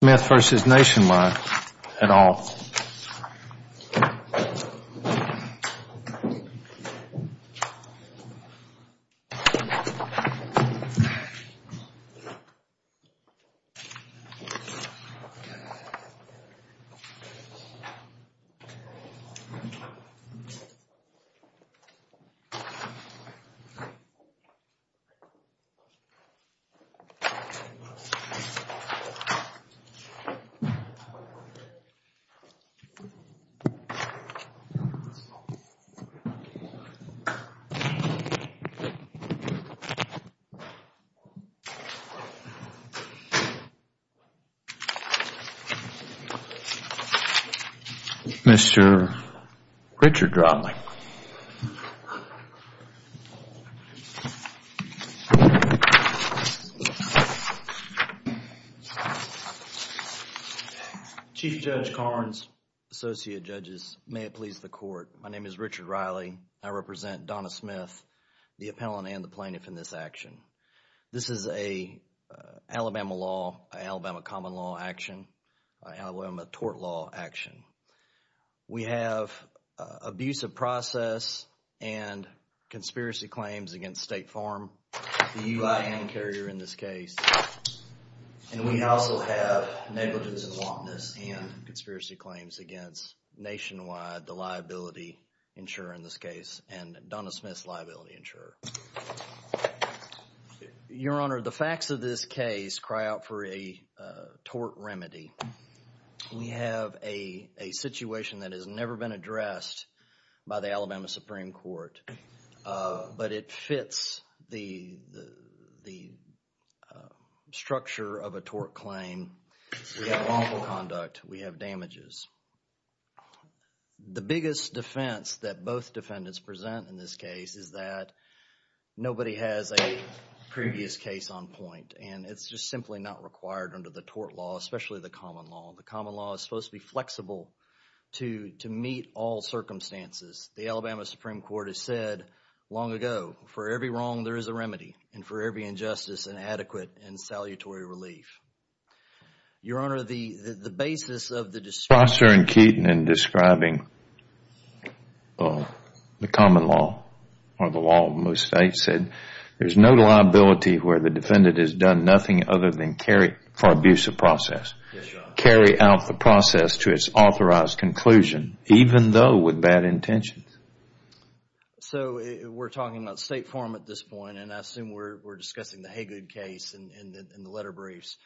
Smith v. Nationwide at all. Mr. Richard Dramling. Chief Judge Carnes, Associate Judges, may it please the court. My name is Richard Riley. I represent Donna Smith, the appellant and the plaintiff in this action. This is an Alabama law, an Alabama common law action, an Alabama tort law action. We have abusive process and conspiracy claims against State Farm, the UIN carrier in this case, and negligence and wantonness and conspiracy claims against Nationwide, the liability insurer in this case, and Donna Smith's liability insurer. Your Honor, the facts of this case cry out for a tort remedy. We have a situation that has never been addressed by the Alabama Supreme Court, but it fits the structure of a tort claim. We have wrongful conduct. We have damages. The biggest defense that both defendants present in this case is that nobody has a previous case on point, and it's just simply not required under the tort law, especially the common law. The common law is supposed to be flexible, to meet all circumstances. The Alabama Supreme Court has said long ago, for every wrong, there is a remedy, and for every injustice, an adequate and salutary relief. Your Honor, the basis of the description... Foster and Keaton in describing the common law or the law of most states said, there's no liability where the defendant has done nothing other than carry for abusive process. Carry out the process to its authorized conclusion, even though with bad intentions. We're talking about State Farm at this point, and I assume we're discussing the Haygood case in the letter briefs.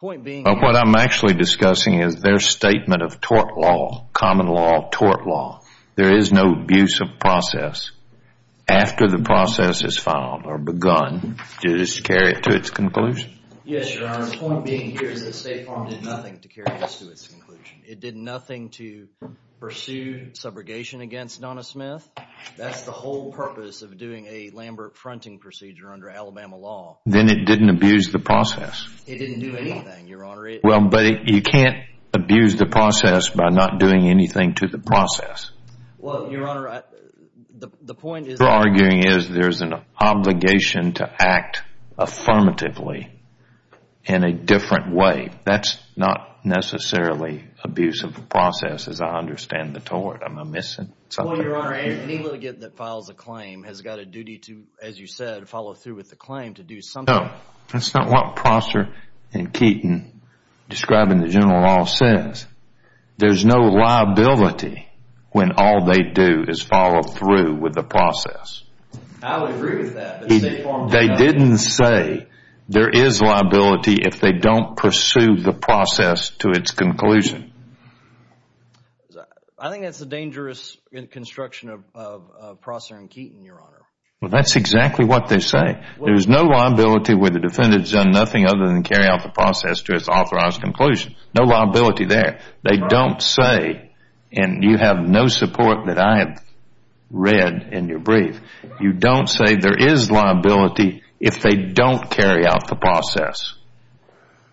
Point being... What I'm actually discussing is their statement of tort law, common law of tort law. There is no abusive process. After the process is filed or begun, to just carry it to its conclusion. Yes, Your Honor. The point being here is that State Farm did nothing to carry this to its conclusion. It did nothing to pursue subrogation against Donna Smith. That's the whole purpose of doing a Lambert fronting procedure under Alabama law. Then it didn't abuse the process. It didn't do anything, Your Honor. Well, but you can't abuse the process by not doing anything to the process. Well, Your Honor, the point is... in a different way. That's not necessarily abuse of the process, as I understand the tort. Am I missing something? Well, Your Honor, any litigant that files a claim has got a duty to, as you said, follow through with the claim to do something... No. That's not what Prosser and Keaton, describing the general law, says. There's no liability when all they do is follow through with the process. I would agree with that, but State Farm... They didn't say there is liability if they don't pursue the process to its conclusion. I think that's a dangerous construction of Prosser and Keaton, Your Honor. Well, that's exactly what they say. There's no liability where the defendant's done nothing other than carry out the process to its authorized conclusion. No liability there. They don't say... and you have no support that I have read in your brief. You don't say there is liability if they don't carry out the process.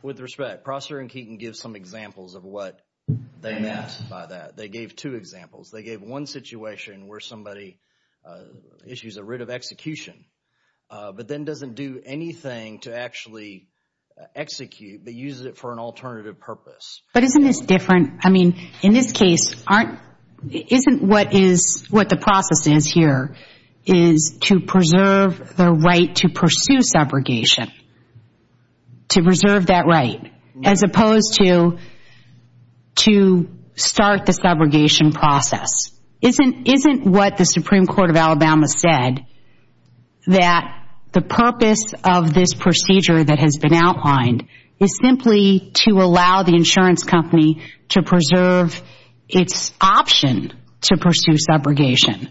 With respect, Prosser and Keaton give some examples of what they meant by that. They gave two examples. They gave one situation where somebody issues a writ of execution, but then doesn't do anything to actually execute, but uses it for an alternative purpose. But isn't this different? In this case, isn't what the process is here is to preserve the right to pursue subrogation, to preserve that right, as opposed to start the subrogation process? Isn't what the Supreme Court of Alabama said that the purpose of this procedure that has to preserve its option to pursue subrogation?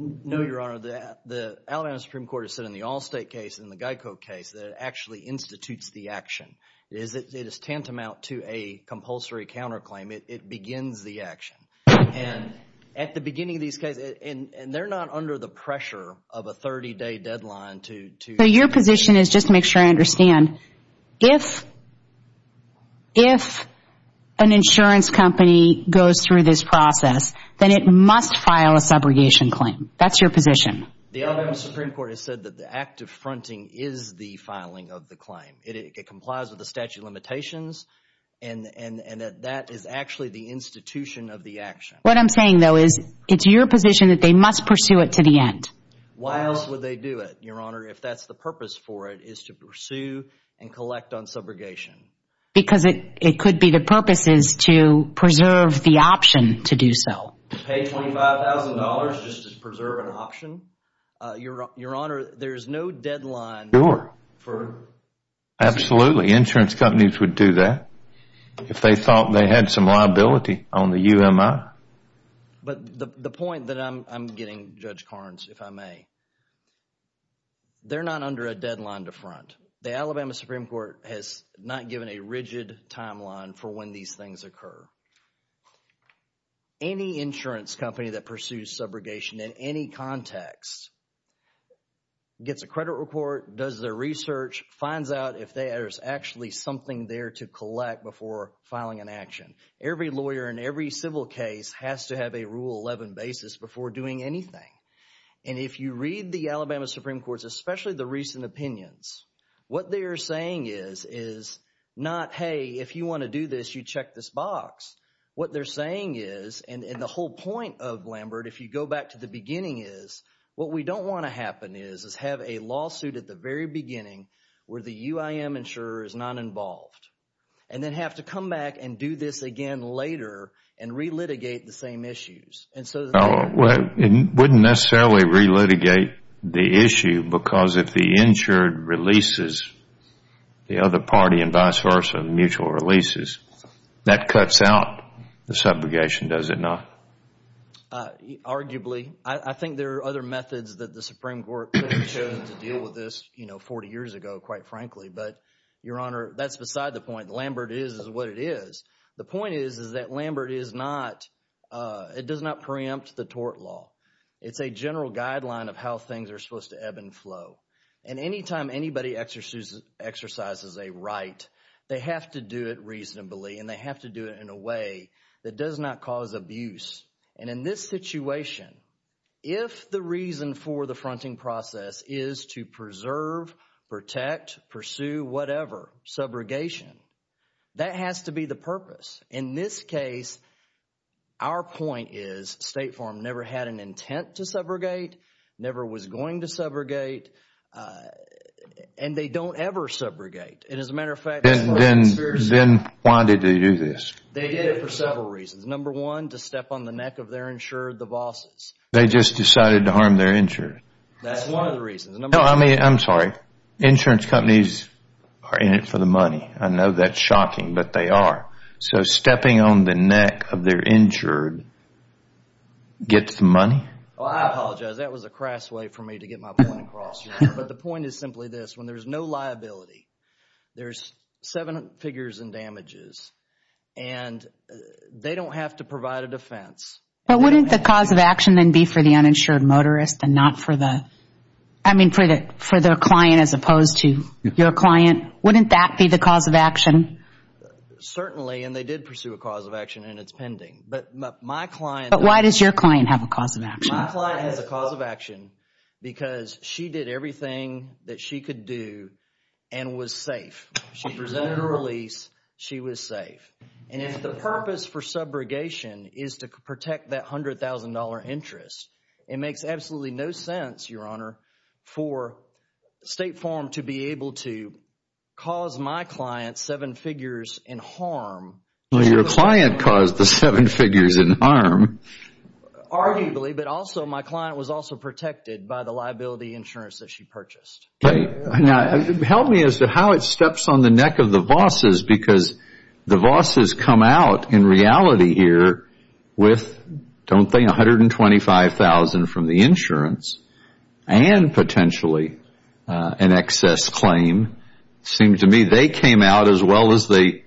No, Your Honor. The Alabama Supreme Court has said in the Allstate case and the Geico case that it actually institutes the action. It is tantamount to a compulsory counterclaim. It begins the action. At the beginning of these cases... and they're not under the pressure of a 30-day deadline to... So your position is, just to make sure I understand, if an insurance company goes through this process, then it must file a subrogation claim. That's your position. The Alabama Supreme Court has said that the act of fronting is the filing of the claim. It complies with the statute of limitations, and that that is actually the institution of the action. What I'm saying, though, is it's your position that they must pursue it to the end. Why else would they do it, Your Honor? If that's the purpose for it, is to pursue and collect on subrogation? Because it could be the purpose is to preserve the option to do so. To pay $25,000 just to preserve an option? Your Honor, there's no deadline for... Sure. Absolutely. Insurance companies would do that if they thought they had some liability on the UMI. But the point that I'm getting, Judge Carnes, if I may, they're not under a deadline to front. The Alabama Supreme Court has not given a rigid timeline for when these things occur. Any insurance company that pursues subrogation in any context gets a credit report, does their research, finds out if there's actually something there to collect before filing an action. Every lawyer in every civil case has to have a Rule 11 basis before doing anything. And if you read the Alabama Supreme Court's, especially the recent opinions, what they're saying is, is not, hey, if you want to do this, you check this box. What they're saying is, and the whole point of Lambert, if you go back to the beginning, is what we don't want to happen is, is have a lawsuit at the very beginning where the UIM insurer is not involved. And then have to come back and do this again later and re-litigate the same issues. And so, Well, it wouldn't necessarily re-litigate the issue because if the insured releases the other party and vice versa, mutual releases, that cuts out the subrogation, does it not? Arguably. I think there are other methods that the Supreme Court could have chosen to deal with this, you know, 40 years ago, quite frankly. But, Your Honor, that's beside the point. Lambert is what it is. The point is, is that Lambert is not, it does not preempt the tort law. It's a general guideline of how things are supposed to ebb and flow. And anytime anybody exercises a right, they have to do it reasonably and they have to do it in a way that does not cause abuse. And in this situation, if the reason for the fronting process is to preserve, protect, pursue whatever, subrogation, that has to be the purpose. In this case, our point is State Farm never had an intent to subrogate, never was going to subrogate, and they don't ever subrogate. And as a matter of fact, Then why did they do this? They did it for several reasons. Number one, to step on the neck of their insured, the vassals. They just decided to harm their insured. That's one of the reasons. No, I mean, I'm sorry. Insurance companies are in it for the money. I know that's shocking, but they are. So stepping on the neck of their insured gets the money? Well, I apologize. That was a crass way for me to get my point across, Your Honor. But the point is simply this, when there's no liability, there's seven figures in damages and they don't have to provide a defense. But wouldn't the cause of action then be for the uninsured motorist and not for the, I mean, for the client as opposed to your client? Wouldn't that be the cause of action? Certainly, and they did pursue a cause of action and it's pending. But my client But why does your client have a cause of action? My client has a cause of action because she did everything that she could do and was safe. She presented a release. She was safe. And if the purpose for subrogation is to protect that $100,000 interest, it makes absolutely no sense, Your Honor, for State Farm to be able to cause my client seven figures in harm. Well, your client caused the seven figures in harm. Arguably, but also my client was also protected by the liability insurance that she purchased. Okay. Now, help me as to how it steps on the neck of the bosses because the bosses come out in reality here with, don't they, $125,000 from the insurance and potentially an excess claim. It seemed to me they came out as well as they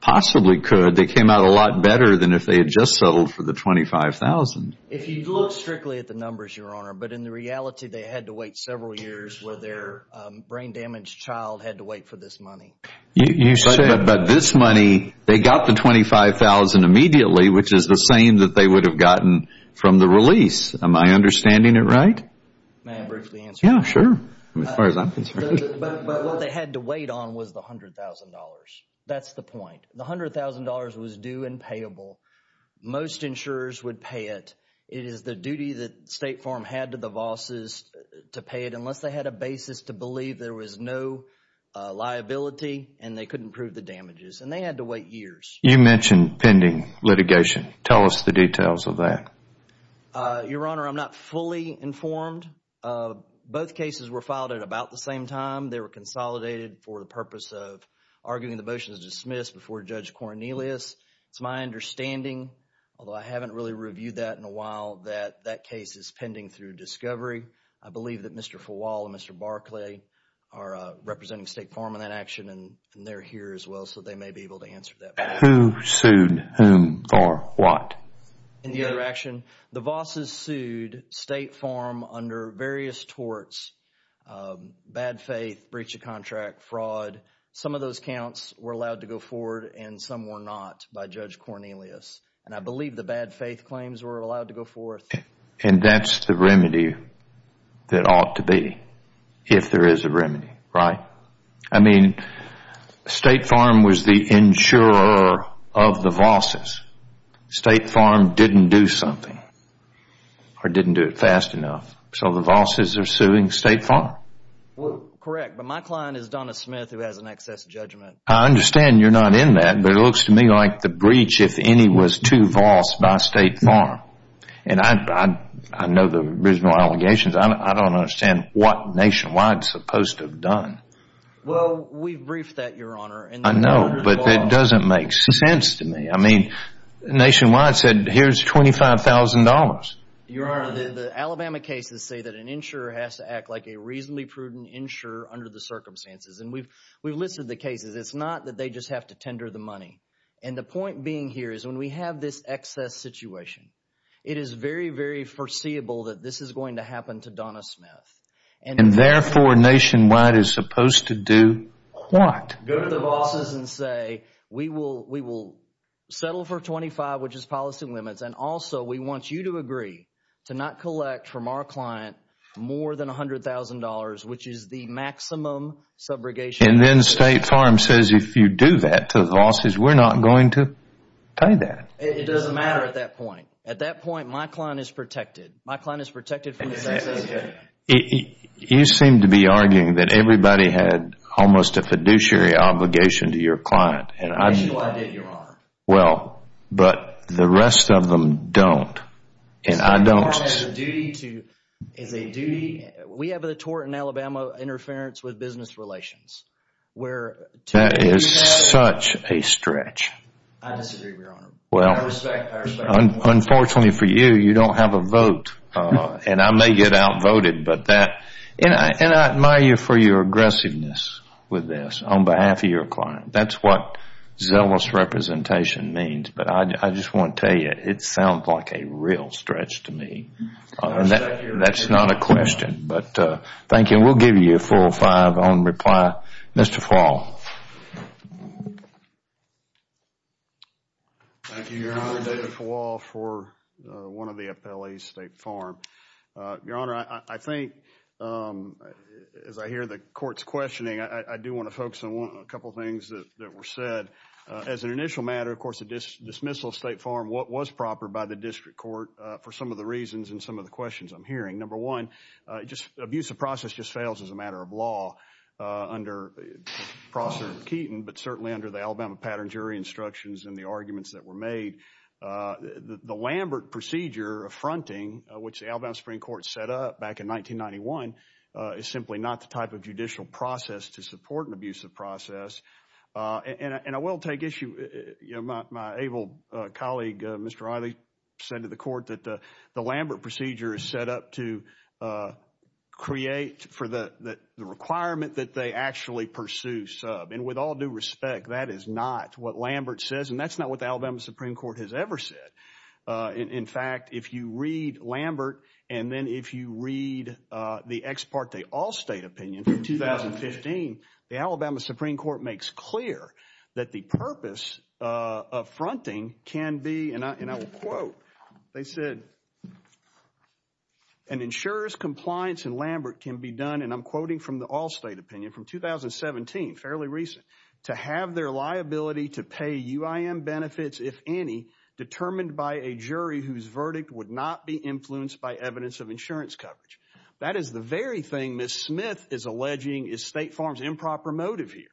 possibly could. They came out a lot better than if they had just settled for the $25,000. If you look strictly at the numbers, Your Honor, but in the reality they had to wait several years where their brain damaged child had to wait for this money. You said, but this money, they got the $25,000 immediately, which is the same that they would have gotten from the release. Am I understanding it right? May I briefly answer that? Yeah, sure. As far as I'm concerned. But what they had to wait on was the $100,000. That's the point. The $100,000 was due and payable. Most insurers would pay it. It is the duty that State Farm had to the bosses to pay it unless they had a basis to believe there was no liability and they couldn't prove the damages. They had to wait years. You mentioned pending litigation. Tell us the details of that. Your Honor, I'm not fully informed. Both cases were filed at about the same time. They were consolidated for the purpose of arguing the motion was dismissed before Judge Cornelius. It's my understanding, although I haven't really reviewed that in a while, that that case is pending through discovery. I believe that Mr. Fawal and Mr. Barclay are representing State Farm in that action and they're here as well, so they may be able to answer that. Who sued whom or what? In the other action, the bosses sued State Farm under various torts, bad faith, breach of contract, fraud. Some of those counts were allowed to go forward and some were not by Judge Cornelius. I believe the bad faith claims were allowed to go forth. That's the remedy that ought to be if there is a remedy, right? State Farm was the insurer of the bosses. State Farm didn't do something or didn't do it fast enough, so the bosses are suing State Farm. Correct. My client is Donna Smith who has an excess judgment. I understand you're not in that, but it looks to me like the breach, if any, was too vast by State Farm. I know the original allegations. I don't understand what Nationwide's supposed to have done. We've briefed that, Your Honor. I know, but it doesn't make sense to me. Nationwide said, here's $25,000. Your Honor, the Alabama cases say that an insurer has to act like a reasonably prudent insurer under the circumstances. We've listed the cases. It's not that they just have to tender the money. The point being here is when we have this excess situation, it is very, very foreseeable that this is going to happen to Donna Smith. Therefore, Nationwide is supposed to do what? Go to the bosses and say, we will settle for $25,000, which is policy limits. Also, we want you to agree to not collect from our client more than $100,000, which is the maximum subrogation. Then State Farm says, if you do that to the bosses, we're not going to pay that. It doesn't matter at that point. At that point, my client is protected. My client is protected from this excess situation. You seem to be arguing that everybody had almost a fiduciary obligation to your client. Nationwide did, Your Honor. But the rest of them don't, and I don't. My client has a duty. We have a tort in Alabama, interference with business relations. That is such a stretch. I disagree, Your Honor. Unfortunately for you, you don't have a vote, and I may get outvoted, and I admire you for your aggressiveness with this on behalf of your client. That's what zealous representation means, but I just want to tell you, it sounds like a real stretch to me. That's not a question, but thank you, and we'll give you a full five on reply. Mr. Fuall. Thank you, Your Honor. David Fuall for one of the appellees, State Farm. Your Honor, I think, as I hear the court's questioning, I do want to focus on a couple things that were said. As an initial matter, of course, the dismissal of State Farm was proper by the district court for some of the reasons and some of the questions I'm hearing. Number one, abuse of process just fails as a matter of law under Professor Keeton, but certainly under the Alabama Pattern Jury instructions and the arguments that were made. The Lambert procedure of fronting, which the Alabama Supreme Court set up back in 1991, is simply not the type of judicial process to support an abuse of process. I will take issue... My able colleague, Mr. Riley, said to the court that the Lambert procedure is set up to create for the requirement that they actually pursue sub. With all due respect, that is not what Lambert says, and that's not what the Alabama Supreme Court has ever said. In fact, if you read Lambert, and then if you read the ex parte Allstate opinion from 2017, it makes clear that the purpose of fronting can be, and I will quote, they said, an insurer's compliance in Lambert can be done, and I'm quoting from the Allstate opinion from 2017, fairly recent, to have their liability to pay UIM benefits, if any, determined by a jury whose verdict would not be influenced by evidence of insurance coverage. That is the very thing Ms. Smith is alleging is State Farm's improper motive here,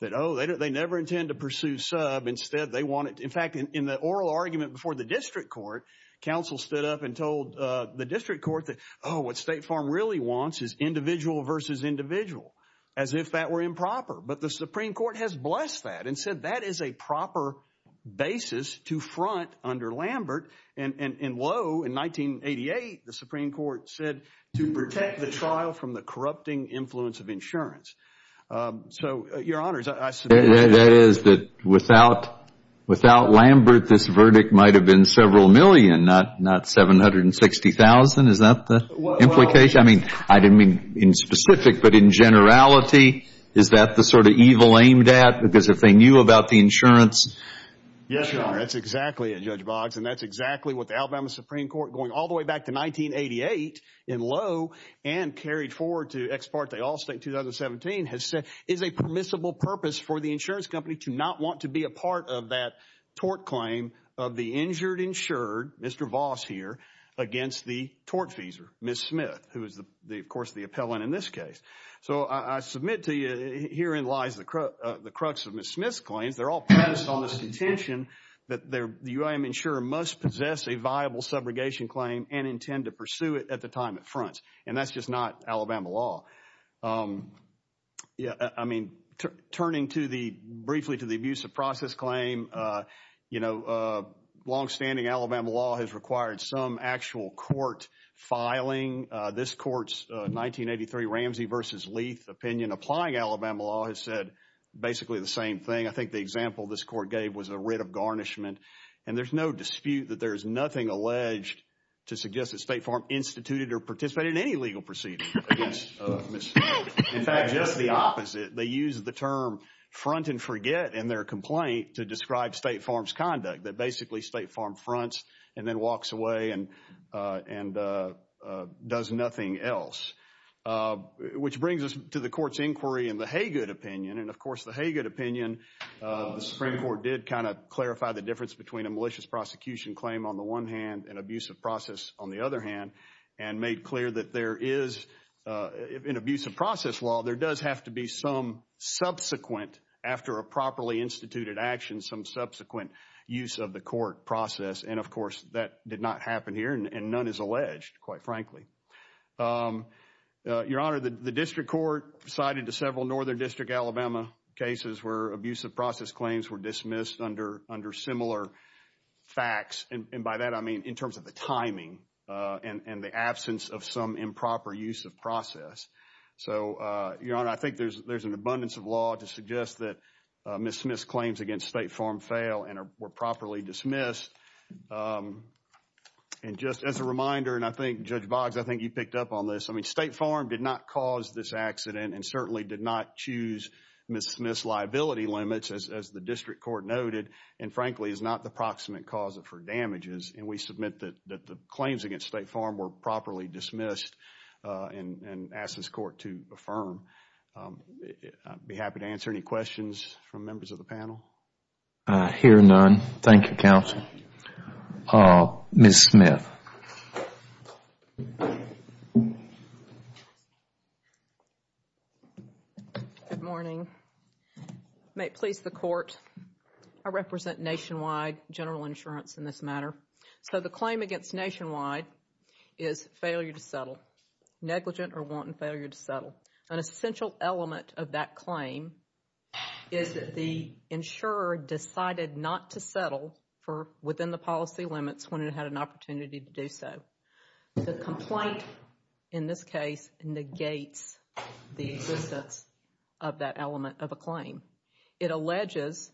that oh, they never intend to pursue sub, instead they want it... In fact, in the oral argument before the district court, counsel stood up and told the district court that, oh, what State Farm really wants is individual versus individual, as if that were improper, but the Supreme Court has blessed that and said that is a proper basis to front under Lambert, and lo, in 1988, the Supreme Court said to protect the trial from the corrupting influence of insurance. Your honors, I submit... That is that without Lambert, this verdict might have been several million, not 760,000. Is that the implication? I mean, I didn't mean in specific, but in generality, is that the sort of evil aimed at because if they knew about the insurance... Yes, your honor. That's exactly it, Judge Boggs, and that's exactly what the Alabama Supreme Court, going all the way back to 1988, in lo, and carried forward to ex parte Allstate in 2017, has said is a permissible purpose for the insurance company to not want to be a part of that tort claim of the injured, insured, Mr. Voss here, against the tortfeasor, Ms. Smith, who is of course the appellant in this case. I submit to you, herein lies the crux of Ms. Smith's claims. They're all based on this intention that the UIM insurer must possess a viable subrogation claim and intend to pursue it at the time it fronts, and that's just not Alabama law. I mean, turning briefly to the abuse of process claim, longstanding Alabama law has required some actual court filing. This court's 1983 Ramsey versus Leith opinion applying Alabama law has said basically the same thing. I think the example this court gave was a writ of garnishment, and there's no dispute that there's nothing alleged to suggest that State Farm instituted or participated in any legal proceeding against Ms. Smith. In fact, just the opposite. They use the term front and forget in their complaint to describe State Farm's conduct, that basically State Farm fronts and then walks away and does nothing else, which brings us to the court's inquiry in the Haygood opinion, and of course the Haygood opinion, the Supreme Court did kind of clarify the difference between a malicious prosecution claim on the one hand and abuse of process on the other hand, and made clear that there is, in abuse of process law, there does have to be some subsequent, after a properly instituted action, some subsequent use of the court process, and of course that did not happen here and none is alleged, quite frankly. Your Honor, the district court cited to several northern district Alabama cases where abuse of process claims were dismissed under similar facts, and by that I mean in terms of the timing and the absence of some improper use of process. So Your Honor, I think there's an abundance of law to suggest that Ms. Smith's claims against State Farm fail and were properly dismissed, and just as a reminder, and I think Judge Boggs, I think you picked up on this, I mean State Farm did not cause this accident and certainly did not choose Ms. Smith's liability limits, as the district court noted, and frankly is not the proximate cause of her damages, and we submit that the claims against State Farm were properly dismissed and ask this court to affirm. I would be happy to answer any questions from members of the panel. Hear none. Thank you, counsel. Ms. Smith. Good morning. May it please the court, I represent Nationwide General Insurance in this matter. So the claim against Nationwide is failure to settle, negligent or wanton failure to settle. An essential element of that claim is that the insurer decided not to settle within the opportunity to do so. The complaint in this case negates the existence of that element of a claim. It alleges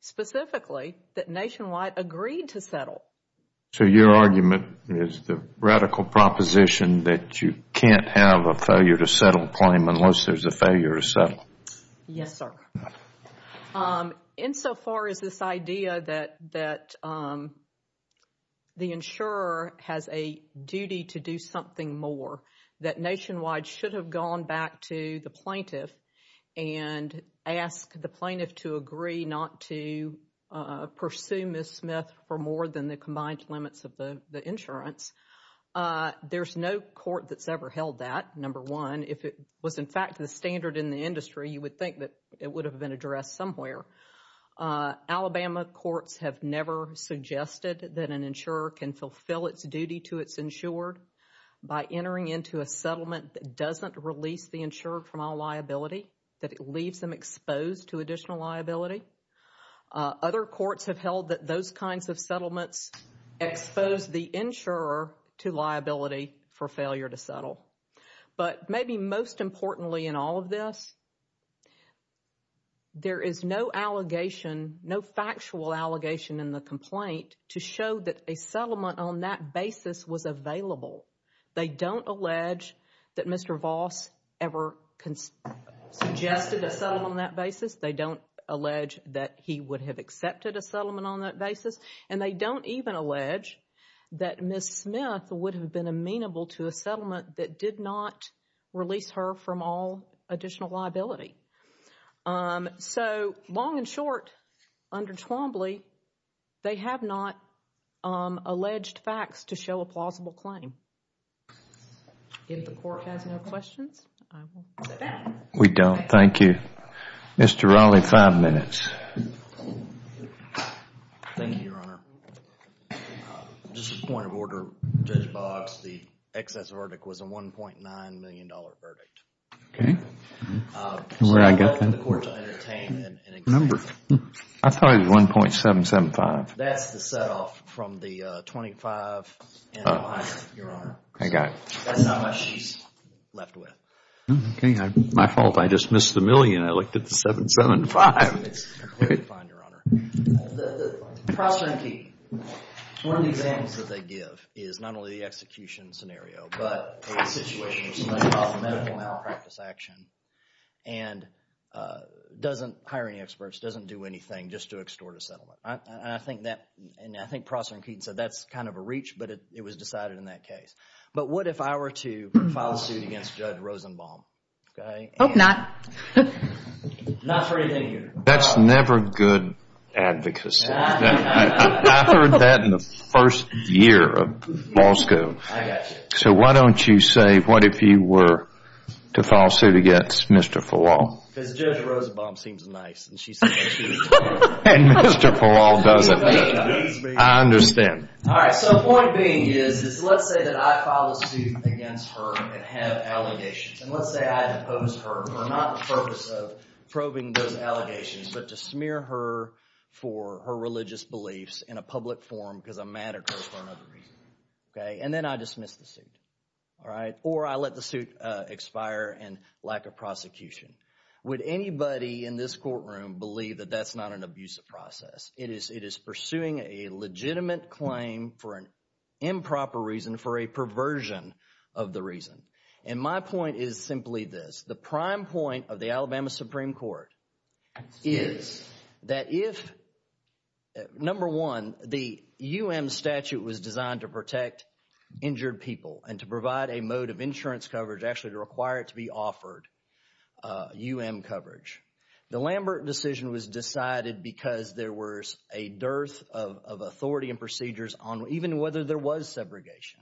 specifically that Nationwide agreed to settle. So your argument is the radical proposition that you can't have a failure to settle claim unless there's a failure to settle. Yes, sir. Insofar as this idea that the insurer has a duty to do something more, that Nationwide should have gone back to the plaintiff and asked the plaintiff to agree not to pursue Ms. Smith for more than the combined limits of the insurance, there's no court that's ever held that. Number one, if it was in fact the standard in the industry, you would think that it would have been addressed somewhere. Alabama courts have never suggested that an insurer can fulfill its duty to its insured by entering into a settlement that doesn't release the insured from all liability, that it leaves them exposed to additional liability. Other courts have held that those kinds of settlements expose the insurer to liability for failure to settle. But maybe most importantly in all of this, there is no allegation, no factual allegation in the complaint to show that a settlement on that basis was available. They don't allege that Mr. Voss ever suggested a settlement on that basis. They don't allege that he would have accepted a settlement on that basis. And they don't even allege that Ms. Smith would have been amenable to a settlement that did not release her from all additional liability. So long and short, under Twombly, they have not alleged facts to show a plausible claim. If the court has no questions, I will sit down. We don't. Thank you. Mr. Raleigh, five minutes. Thank you. Your Honor. Just a point of order, Judge Boggs. The excess verdict was a $1.9 million verdict. Okay. Where did I get that? So I'd like the court to entertain and examine. I thought it was 1.775. That's the set off from the 25 and the minus, Your Honor. I got it. So that's not much she's left with. Okay. My fault. that we're going to go through in this case. Mr. Prosser and Keaton, one of the examples that they give is not only the execution scenario, but a situation where somebody filed for medical malpractice action and doesn't hire any experts, doesn't do anything just to extort a settlement. And I think Prosser and Keaton said that's kind of a reach, but it was decided in that case. But what if I were to file a suit against Judge Rosenbaum? Okay. Hope not. Not for anything here. That's never good advocacy. I heard that in the first year of law school. I got you. So why don't you say, what if you were to file a suit against Mr. Falol? Because Judge Rosenbaum seems nice. And she said I should. And Mr. Falol doesn't. I understand. All right. So point being is, is let's say that I file a suit against her and have allegations. And let's say I depose her for not the purpose of probing those allegations, but to smear her for her religious beliefs in a public forum because I'm mad at her for another reason. Okay. And then I dismiss the suit. All right. Or I let the suit expire in lack of prosecution. Would anybody in this courtroom believe that that's not an abusive process? It is pursuing a legitimate claim for an improper reason for a perversion of the reason. And my point is simply this. The prime point of the Alabama Supreme Court is that if, number one, the U.M. statute was designed to protect injured people and to provide a mode of insurance coverage, actually to require it to be offered U.M. coverage, the Lambert decision was decided because there was a dearth of authority and procedures on even whether there was segregation.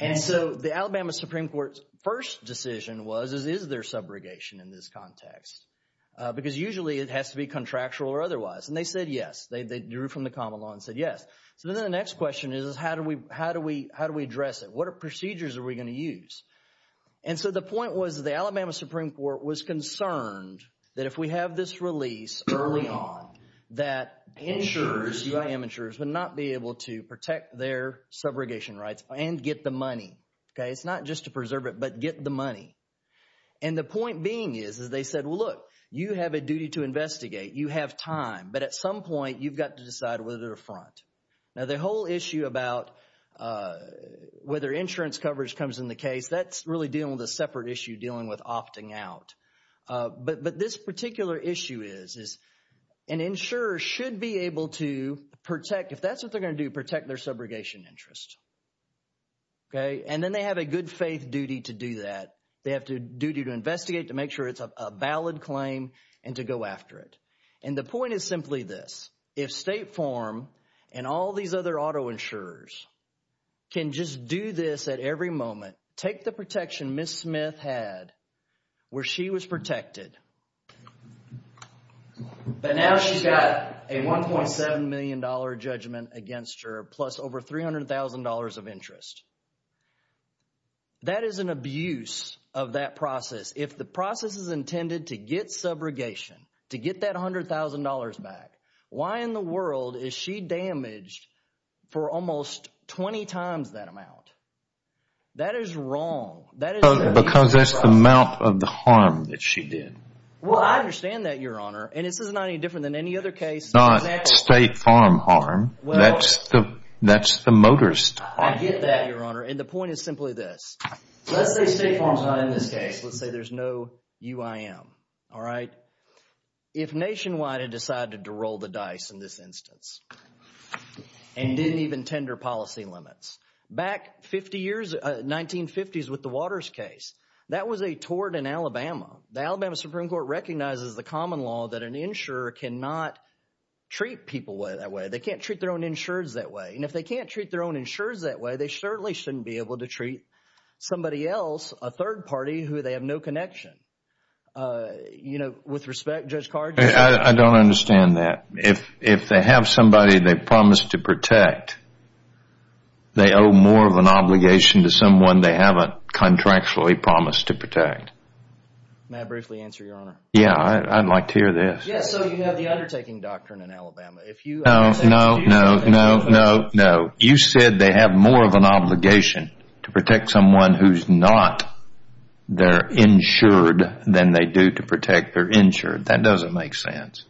And so the Alabama Supreme Court's first decision was, is there subrogation in this context? Because usually it has to be contractual or otherwise. And they said yes. They drew from the common law and said yes. So then the next question is, how do we address it? What procedures are we going to use? And so the point was the Alabama Supreme Court was concerned that if we have this release early on, that insurers, U.I.M. insurers, would not be able to protect their subrogation rights and get the money. Okay? It's not just to preserve it, but get the money. And the point being is, is they said, well, look, you have a duty to investigate. You have time. But at some point, you've got to decide whether to front. Now the whole issue about whether insurance coverage comes in the case, that's really dealing with a separate issue dealing with opting out. But this particular issue is, is an insurer should be able to protect, if that's what they're going to do, protect their subrogation interest. Okay? And then they have a good faith duty to do that. They have a duty to investigate, to make sure it's a valid claim, and to go after it. And the point is simply this. If State Farm and all these other auto insurers can just do this at every moment, take the She was protected. But now she's got a $1.7 million judgment against her, plus over $300,000 of interest. That is an abuse of that process. If the process is intended to get subrogation, to get that $100,000 back, why in the world is she damaged for almost 20 times that amount? That is wrong. Because that's the amount of the harm that she did. Well, I understand that, Your Honor. And this is not any different than any other case. It's not State Farm harm. That's the motorist harm. I get that, Your Honor. And the point is simply this. Let's say State Farm's not in this case. Let's say there's no UIM. All right? If Nationwide had decided to roll the dice in this instance, and didn't even tender policy limits, back 50 years, 1950s with the Waters case, that was a tort in Alabama. The Alabama Supreme Court recognizes the common law that an insurer cannot treat people that way. They can't treat their own insurers that way. And if they can't treat their own insurers that way, they certainly shouldn't be able to treat somebody else, a third party, who they have no connection. You know, with respect, Judge Cargill? I don't understand that. If they have somebody they've promised to protect, they owe more of an obligation to someone they haven't contractually promised to protect. May I briefly answer, Your Honor? Yeah. I'd like to hear this. Yes. So you have the undertaking doctrine in Alabama. No. No. No. No. No. No. You said they have more of an obligation to protect someone who's not their insured than they do to protect their insured. That doesn't make sense.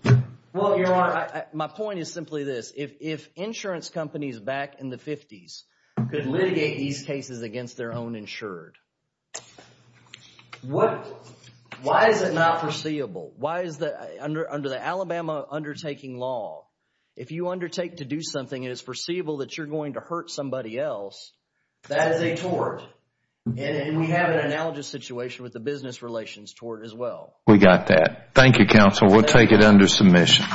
Well, Your Honor, my point is simply this. If insurance companies back in the fifties could litigate these cases against their own insured, why is it not foreseeable? Under the Alabama undertaking law, if you undertake to do something and it's foreseeable that you're going to hurt somebody else, that is a tort. And we have an analogous situation with the business relations tort as well. We got that. Thank you, Counsel. Your Honor, we'll take it under submission.